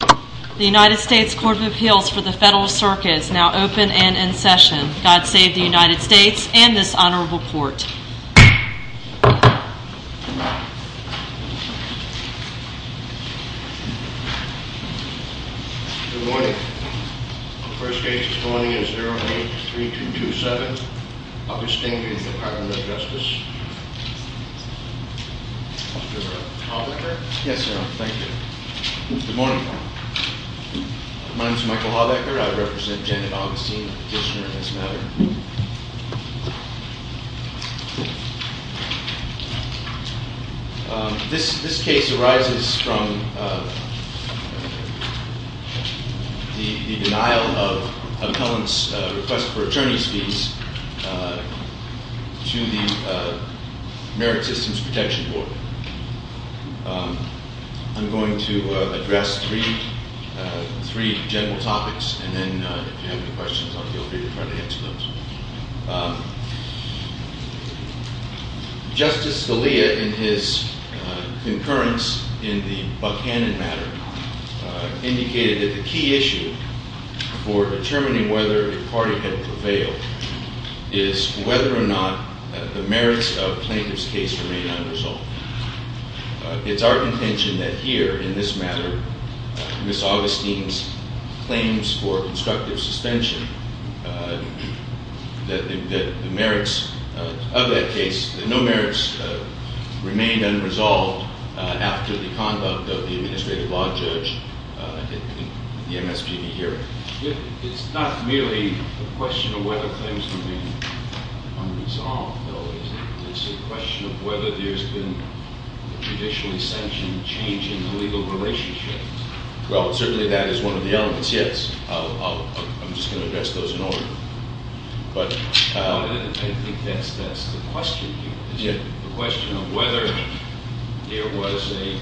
The United States Court of Appeals for the Federal Circuit is now open and in session. God save the United States and this honorable court. Good morning. The first case this morning is 08-3227, Augustine v. Department of Justice. Yes, sir. Thank you. Good morning. My name is Michael Haubecker. I represent Janet Augustine, petitioner in this matter. This case arises from the denial of appellant's request for attorney's fees to the Merit Systems Protection Board. I'm going to address three general topics, and then if you have any questions, I'll feel free to try to answer those. Justice Scalia, in his concurrence in the Buchanan matter, indicated that the key issue for determining whether the party had prevailed is whether or not the merits of the plaintiff's case remain unresolved. It's our intention that here, in this matter, Ms. Augustine's claims for constructive suspension, that the merits of that case, that no merits remain unresolved after the conduct of the Administrative Law Judge in the MSPB hearing. It's not merely a question of whether claims can be unresolved, though. It's a question of whether there's been a judicially sanctioned change in the legal relationship. Well, certainly that is one of the elements, yes. I'm just going to address those in order. I think that's the question here. The question of whether there was a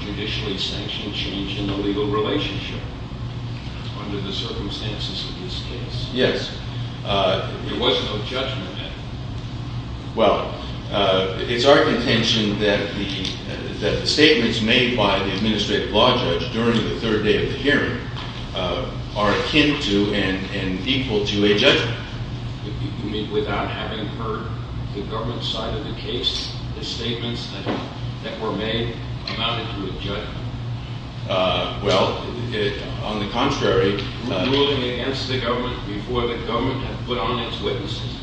judicially sanctioned change in the legal relationship under the circumstances of this case. Yes. There was no judgment then. Well, it's our intention that the statements made by the Administrative Law Judge during the third day of the hearing are akin to and equal to a judgment. You mean without having heard the government side of the case, the statements that were made amounted to a judgment? Well, on the contrary. Were you ruling against the government before the government had put on its witnesses?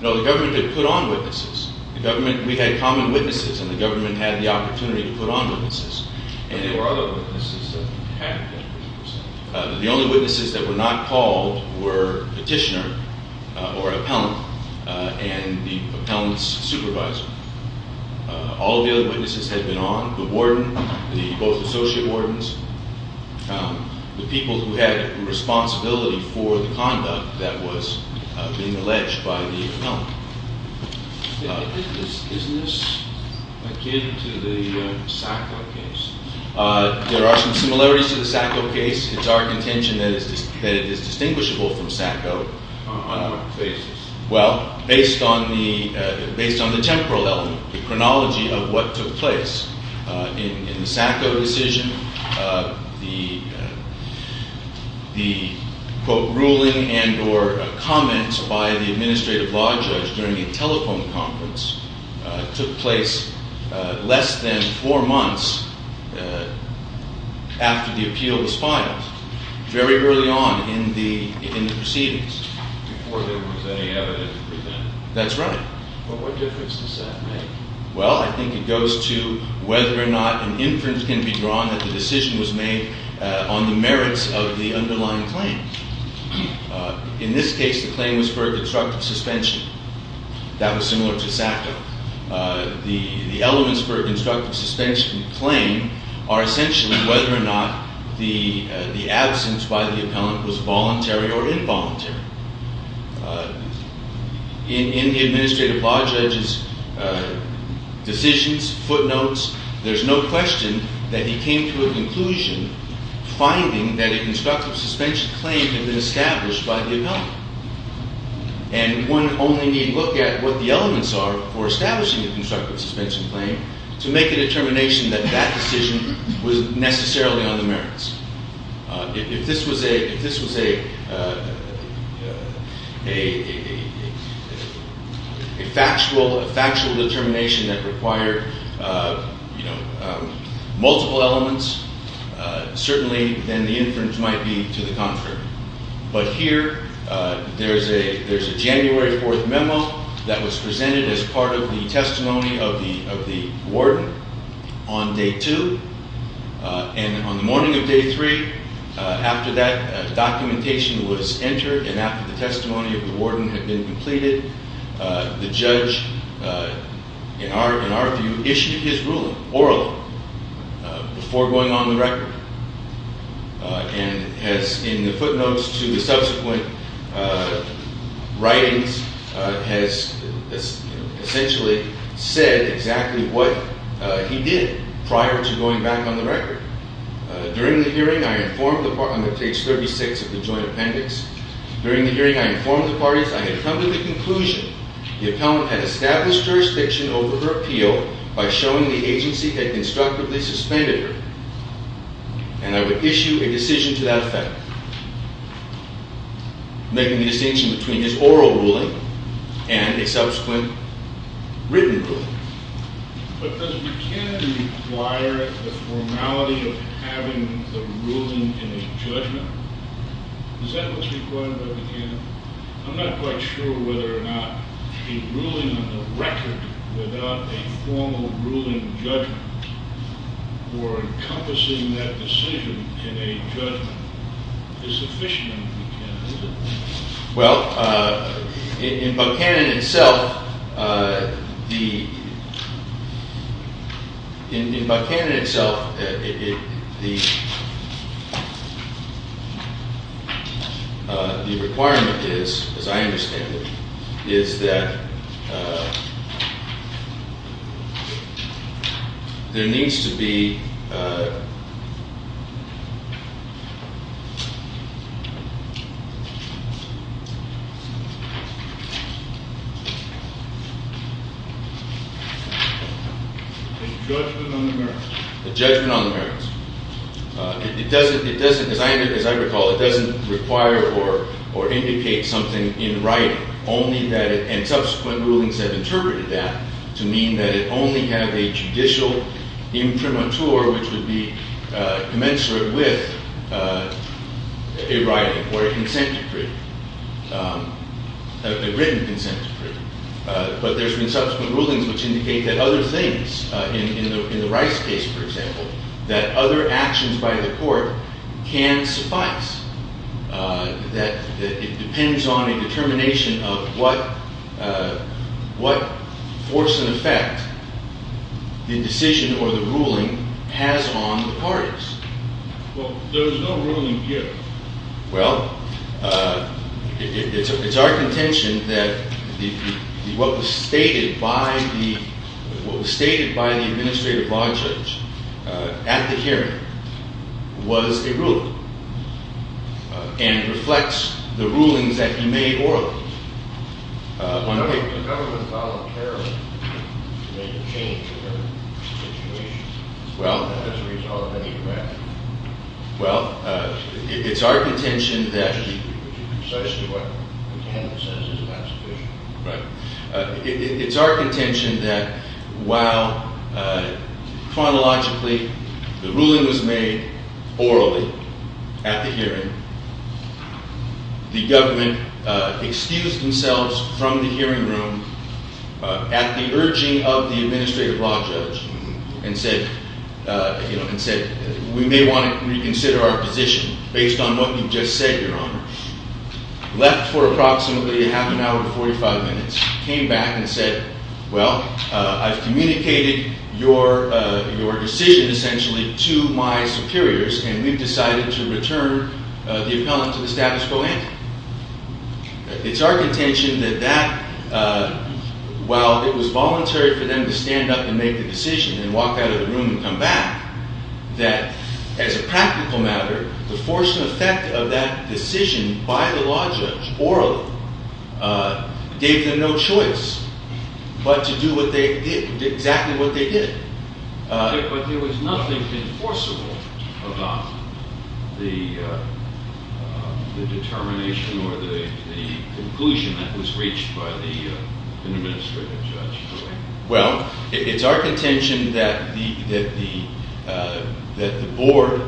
No, the government had put on witnesses. We had common witnesses, and the government had the opportunity to put on witnesses. But there were other witnesses that had been put on. The only witnesses that were not called were Petitioner or Appellant and the Appellant's supervisor. All of the other witnesses had been on. The warden, both associate wardens, the people who had responsibility for the conduct that was being alleged by the appellant. Isn't this akin to the Sacco case? There are some similarities to the Sacco case. It's our intention that it is distinguishable from Sacco. On what basis? Well, based on the temporal element, the chronology of what took place. In the Sacco decision, the, quote, ruling and or comment by the administrative law judge during a telephone conference took place less than four months after the appeal was filed, very early on in the proceedings. Before there was any evidence presented. That's right. But what difference does that make? Well, I think it goes to whether or not an inference can be drawn that the decision was made on the merits of the underlying claim. In this case, the claim was for a constructive suspension. That was similar to Sacco. The elements for a constructive suspension claim are essentially whether or not the absence by the appellant was voluntary or involuntary. In the administrative law judge's decisions, footnotes, there's no question that he came to a conclusion finding that a constructive suspension claim had been established by the appellant. And one only need look at what the elements are for establishing a constructive suspension claim to make a determination that that decision was necessarily on the merits. If this was a factual determination that required multiple elements, certainly then the inference might be to the contrary. But here, there's a January 4th memo that was presented as part of the testimony of the warden on day two. And on the morning of day three, after that documentation was entered and after the testimony of the warden had been completed, the judge, in our view, issued his ruling, orally, before going on the record. And has, in the footnotes to the subsequent writings, has essentially said exactly what he did prior to going back on the record. During the hearing, I informed the parties on page 36 of the joint appendix. During the hearing, I informed the parties I had come to the conclusion the appellant had established jurisdiction over her appeal by showing the agency had constructively suspended her. And I would issue a decision to that effect, making the distinction between his oral ruling and a subsequent written ruling. But does Buchanan require the formality of having the ruling in a judgment? Does that look required by Buchanan? I'm not quite sure whether or not a ruling on the record without a formal ruling judgment or encompassing that decision in a judgment is sufficient in Buchanan, is it? Well, in Buchanan itself, the requirement is, as I understand it, is that there needs to be a judgment on the merits. As I recall, it doesn't require or indicate something in writing. And subsequent rulings have interpreted that to mean that it only had a judicial imprimatur, which would be commensurate with a writing or a written consent decree. But there's been subsequent rulings which indicate that other things, in the Rice case, for example, that other actions by the court can suffice. That it depends on a determination of what force and effect the decision or the ruling has on the parties. Well, there is no ruling yet. Well, it's our contention that what was stated by the administrative law judge at the hearing was a ruling and reflects the rulings that he made orally. I don't think the government voluntarily made a change to their situation as a result of any draft. Precisely what Buchanan says is not sufficient. It's our contention that while, chronologically, the ruling was made orally at the hearing, the government excused themselves from the hearing room at the urging of the administrative law judge and said, we may want to reconsider our position based on what you've just said, Your Honor, left for approximately half an hour and 45 minutes, came back and said, well, I've communicated your decision, essentially, to my superiors, and we've decided to return the appellant to the status quo ante. It's our contention that that, while it was voluntary for them to stand up and make the decision and walk out of the room and come back, that, as a practical matter, the force and effect of that decision by the law judge orally gave them no choice but to do exactly what they did. But there was nothing enforceable about the determination or the conclusion that was reached by the administrative judge. Well, it's our contention that the board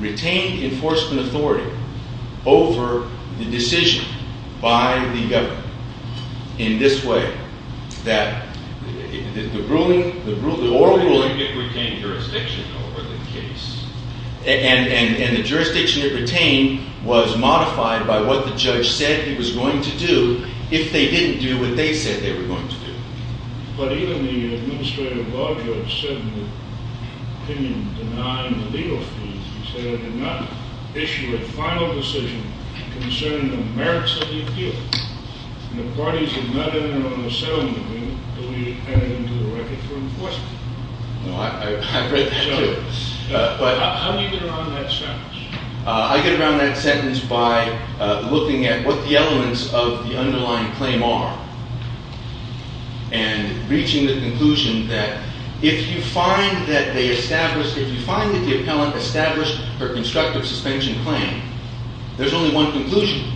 retained enforcement authority over the decision by the government in this way, that the ruling, the oral ruling, and the jurisdiction it retained was modified by what the judge said he was going to do if they didn't do what they said they were going to do. But even the administrative law judge said in the opinion denying the legal fees, he said I did not issue a final decision concerning the merits of the appeal. And the parties did not enter on a settlement agreement until we added them to the record for enforcement. I've read that, too. How do you get around that sentence? I get around that sentence by looking at what the elements of the underlying claim are and reaching the conclusion that if you find that they established, if you find that the appellant established her constructive suspension claim, there's only one conclusion.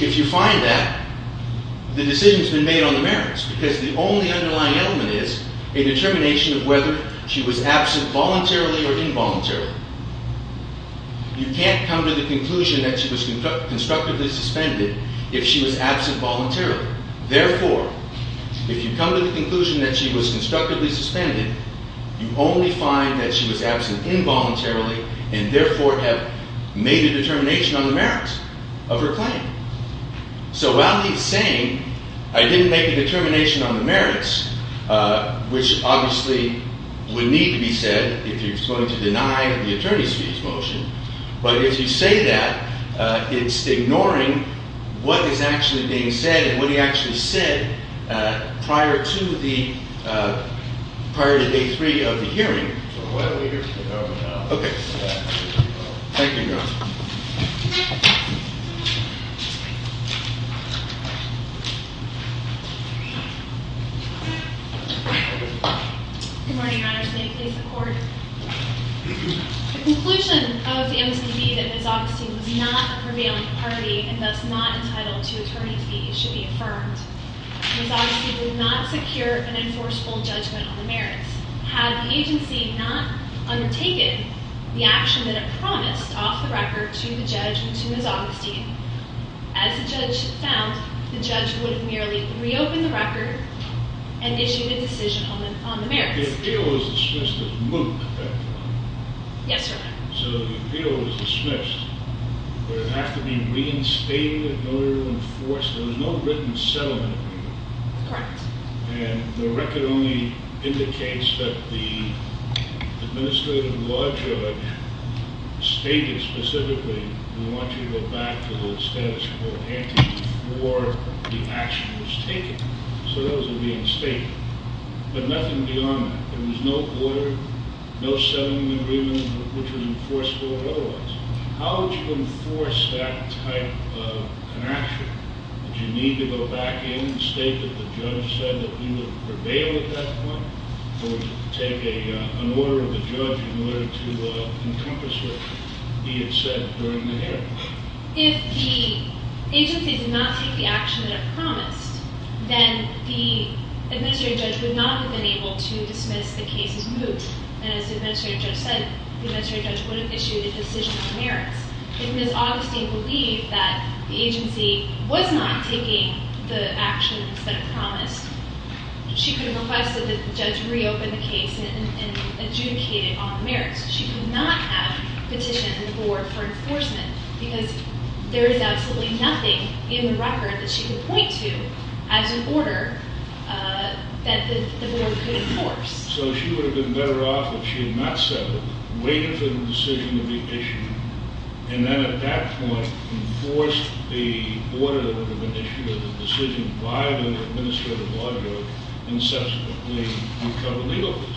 If you find that, the decision has been made on the merits because the only underlying element is a determination of whether she was absent voluntarily or involuntarily. You can't come to the conclusion that she was constructively suspended if she was absent voluntarily. Therefore, if you come to the conclusion that she was constructively suspended, you only find that she was absent involuntarily and therefore have made a determination on the merits of her claim. So while he's saying I didn't make a determination on the merits, which obviously would need to be said if he's going to deny the attorney's fees motion, but if you say that, it's ignoring what is actually being said and what he actually said prior to the – prior to day three of the hearing. Okay. Thank you, Your Honor. Good morning, Your Honor. State please the court. The conclusion of the MSEB that Ms. Augustine was not a prevailing party and thus not entitled to attorney's fees should be affirmed. Ms. Augustine did not secure an enforceable judgment on the merits. Had the agency not undertaken the action that it promised off the record to the judge and to Ms. Augustine, as the judge found, the judge would have merely reopened the record and issued a decision on the merits. The appeal was dismissed as moot, correct? Yes, sir. So the appeal was dismissed. Would it have to be reinstated in order to enforce? There was no written settlement agreement. Correct. And the record only indicates that the administrative law judge stated specifically we want you to go back to the status quo ante before the action was taken. So those would be in state, but nothing beyond that. There was no order, no settlement agreement which was enforceable or otherwise. How would you enforce that type of an action? Would you need to go back in and state that the judge said that he would prevail at that point? Or would you take an order of the judge in order to encompass what he had said during the hearing? If the agency did not take the action that it promised, then the administrative judge would not have been able to dismiss the case as moot. And as the administrative judge said, the administrative judge would have issued a decision on the merits. If Ms. Augustine believed that the agency was not taking the actions that it promised, she could have requested that the judge reopen the case and adjudicate it on the merits. She could not have petitioned the board for enforcement because there is absolutely nothing in the record that she could point to as an order that the board could enforce. So she would have been better off if she had not settled, waited for the decision to be issued, and then at that point enforced the order that would have been issued as a decision by the administrative law judge and subsequently recovered legal fees.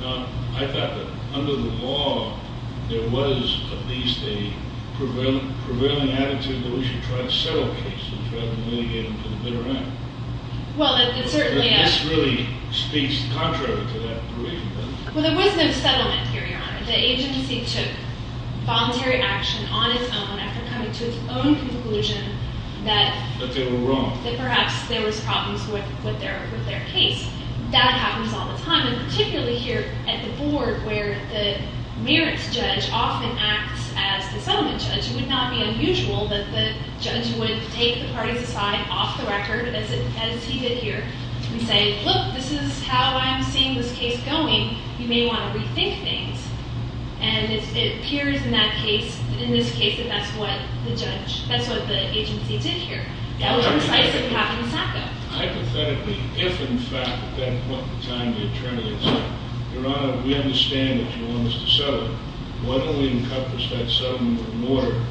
Now, I thought that under the law, there was at least a prevailing attitude that we should try to settle cases rather than litigate them to the bitter end. But this really speaks contrary to that provision. Well, there was no settlement here, Your Honor. The agency took voluntary action on its own after coming to its own conclusion that perhaps there was problems with their case. That happens all the time, and particularly here at the board where the merits judge often acts as the settlement judge. It would not be unusual that the judge would take the parties aside off the record as he did here and say, look, this is how I'm seeing this case going. You may want to rethink things. And it appears in that case, in this case, that that's what the judge, that's what the agency did here. That was precisely what happened in Sacco. Hypothetically, if in fact at that point in time the attorney had said, Your Honor, we understand that you want us to settle. Why don't we encompass that settlement with an order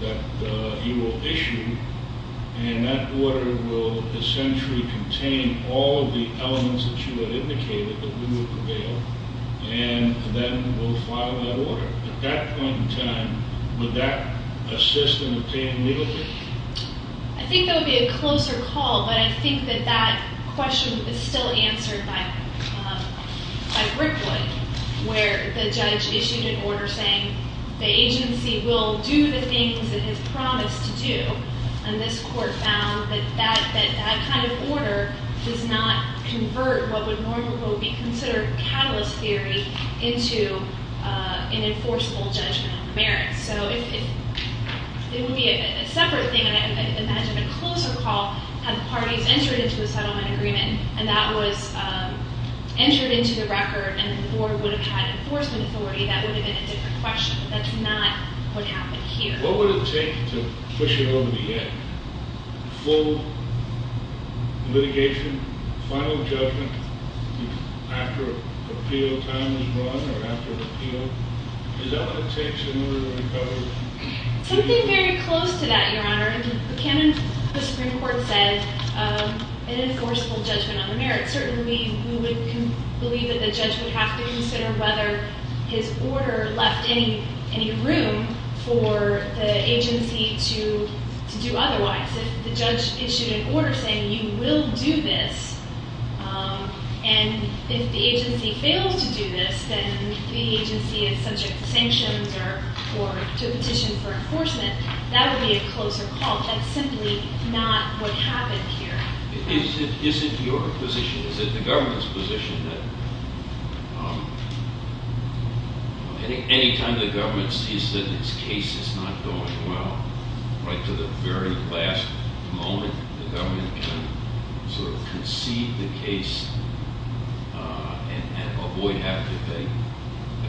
that you will issue? And that order will essentially contain all of the elements that you had indicated that we would prevail. And then we'll file that order. At that point in time, would that assist in obtaining legal fees? I think there would be a closer call, but I think that that question is still answered by Brickwood, where the judge issued an order saying the agency will do the things it has promised to do. And this court found that that kind of order does not convert what would normally be considered catalyst theory into an enforceable judgment on the merits. So it would be a separate thing. I imagine a closer call had the parties entered into a settlement agreement, and that was entered into the record, and the board would have had enforcement authority. That would have been a different question. That's not what happened here. What would it take to push it over the edge? Full litigation, final judgment after an appeal time was run or after an appeal? Is that what it takes to move it over? Something very close to that, Your Honor. If the canon of the Supreme Court said an enforceable judgment on the merits, certainly we would believe that the judge would have to consider whether his order left any room for the agency to do otherwise. If the judge issued an order saying you will do this, and if the agency fails to do this, then the agency is subject to sanctions or to a petition for enforcement, that would be a closer call. That's simply not what happened here. Is it your position, is it the government's position that any time the government sees that this case is not going well, right to the very last moment the government can sort of concede the case and avoid having to pay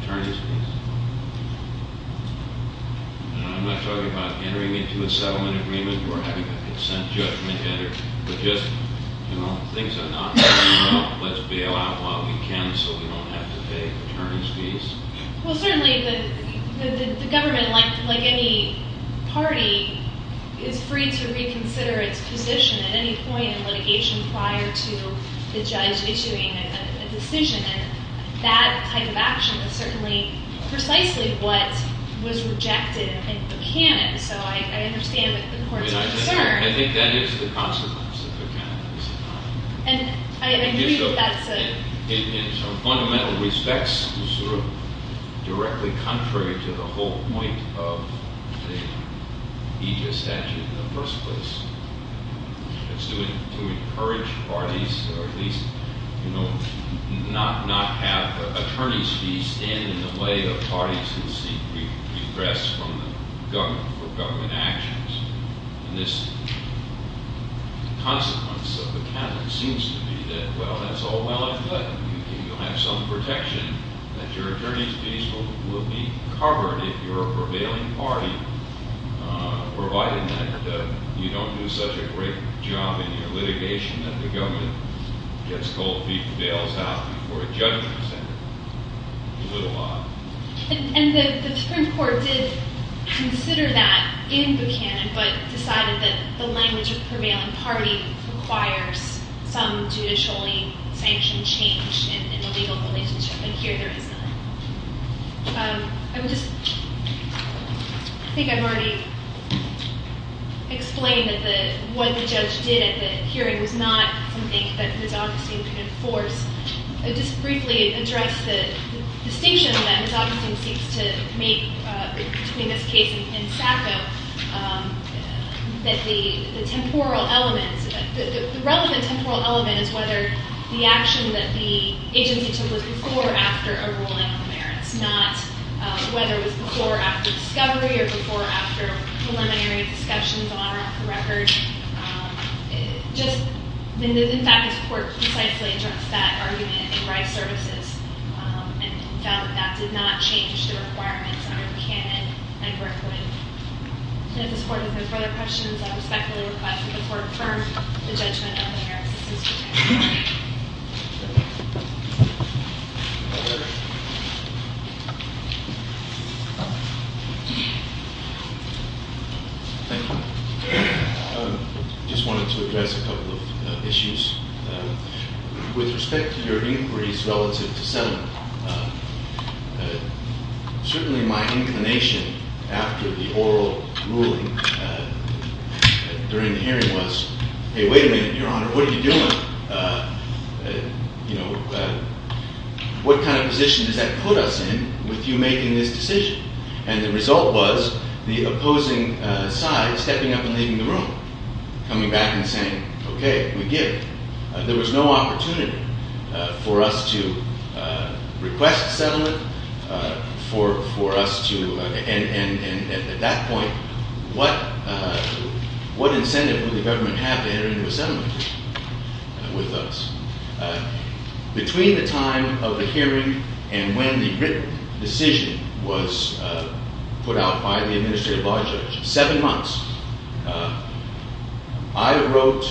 attorneys' fees? I'm not talking about entering into a settlement agreement or having a consent judgment entered, but just, you know, things have not worked out. Let's bail out while we can so we don't have to pay attorneys' fees. Well, certainly the government, like any party, is free to reconsider its position at any point in litigation prior to the judge issuing a decision. And that type of action is certainly precisely what was rejected in Buchanan. So I understand the court's concern. I think that is the consequence of Buchanan. And I agree that's a... In some fundamental respects, it's sort of directly contrary to the whole point of the Aegis statute in the first place. It's to encourage parties, or at least, you know, not have attorneys' fees stand in the way of parties who seek redress for government actions. And this consequence of Buchanan seems to be that, well, that's all well and good. You'll have some protection that your attorneys' fees will be covered if you're a prevailing party, provided that you don't do such a great job in your litigation that the government gets cold feet and bails out before a judgment is entered. It's a little odd. And the Supreme Court did consider that in Buchanan, but decided that the language of prevailing party requires some judicially sanctioned change in the legal relationship. And here there is none. I would just... I think I've already explained that what the judge did at the hearing was not something that Ms. Augustine could enforce. I'll just briefly address the distinction that Ms. Augustine seeks to make between this case and Sacco, that the temporal elements... The relevant temporal element is whether the action that the agency took was before or after a ruling on merits, not whether it was before or after discovery or before or after preliminary discussions on or off the record. In fact, this court precisely addressed that argument in Rye Services and felt that that did not change the requirements under Buchanan and Brickwood. And if this court has no further questions, I respectfully request that the court confirm the judgment of the merits assistant. Thank you. I just wanted to address a couple of issues. With respect to your inquiries relative to settlement, certainly my inclination after the oral ruling during the hearing was, hey, wait a minute, Your Honor, what are you doing? You know, what kind of position does that put us in with you making this decision? And the result was the opposing side stepping up and leaving the room, coming back and saying, okay, we give. There was no opportunity for us to request settlement, for us to... And at that point, what incentive would the government have to enter into a settlement with us? Between the time of the hearing and when the written decision was put out by the administrative law judge, seven months, I wrote,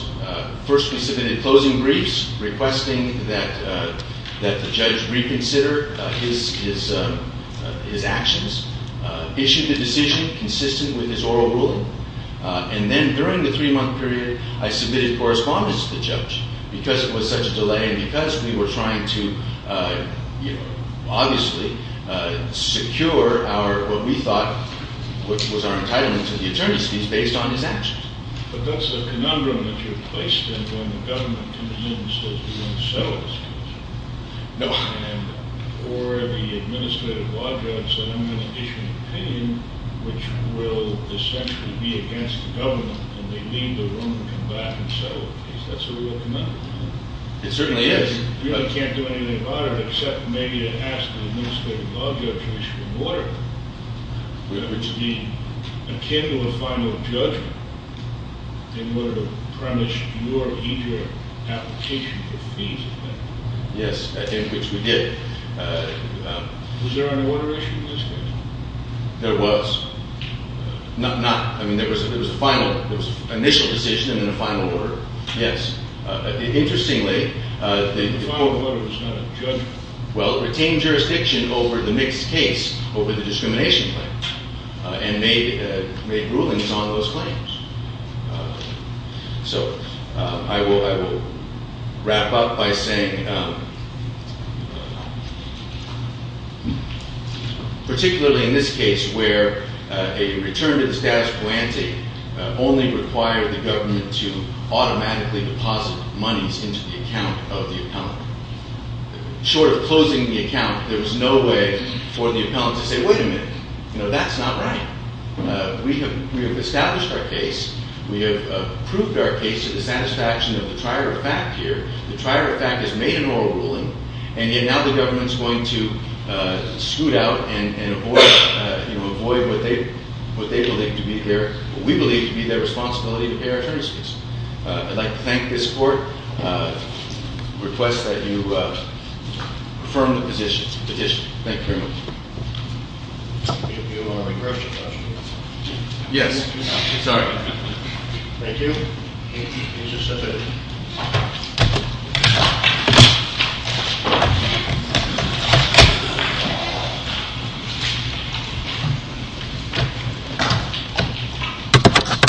first we submitted closing briefs requesting that the judge reconsider his actions, issued the decision consistent with his oral ruling, and then during the three-month period, I submitted correspondence to the judge because it was such a delay and because we were trying to, obviously, secure what we thought was our entitlement to the attorneys fees based on his actions. But that's the conundrum that you're placed in when the government demands that we want to settle this case. No. Or the administrative law judge said, I'm going to issue an opinion which will essentially be against the government, and they leave the room and come back and settle the case. That's a real conundrum, isn't it? It certainly is. You really can't do anything about it except maybe to ask the administrative law judge to issue an order, which would be akin to a final judgment in order to premise your immediate application for fees, I think. Yes, in which we did. Was there an order issued in this case? There was. Not, I mean, there was a final, there was an initial decision and then a final order. Yes. Interestingly, the final order was not a judgment. Well, it retained jurisdiction over the mixed case, over the discrimination claim, and made rulings on those claims. So I will wrap up by saying, particularly in this case where a return to the status quo ante only required the government to automatically deposit monies into the account of the appellant. Short of closing the account, there was no way for the appellant to say, wait a minute, that's not right. We have established our case. We have proved our case to the satisfaction of the trier of fact here. The trier of fact has made an oral ruling. And yet now the government's going to scoot out and avoid what they believe to be their, what we believe to be their responsibility to pay our attorneys' fees. I'd like to thank this court, request that you affirm the petition. Thank you very much. Do you want to regress your questions? Yes. Sorry. Thank you. Please be seated.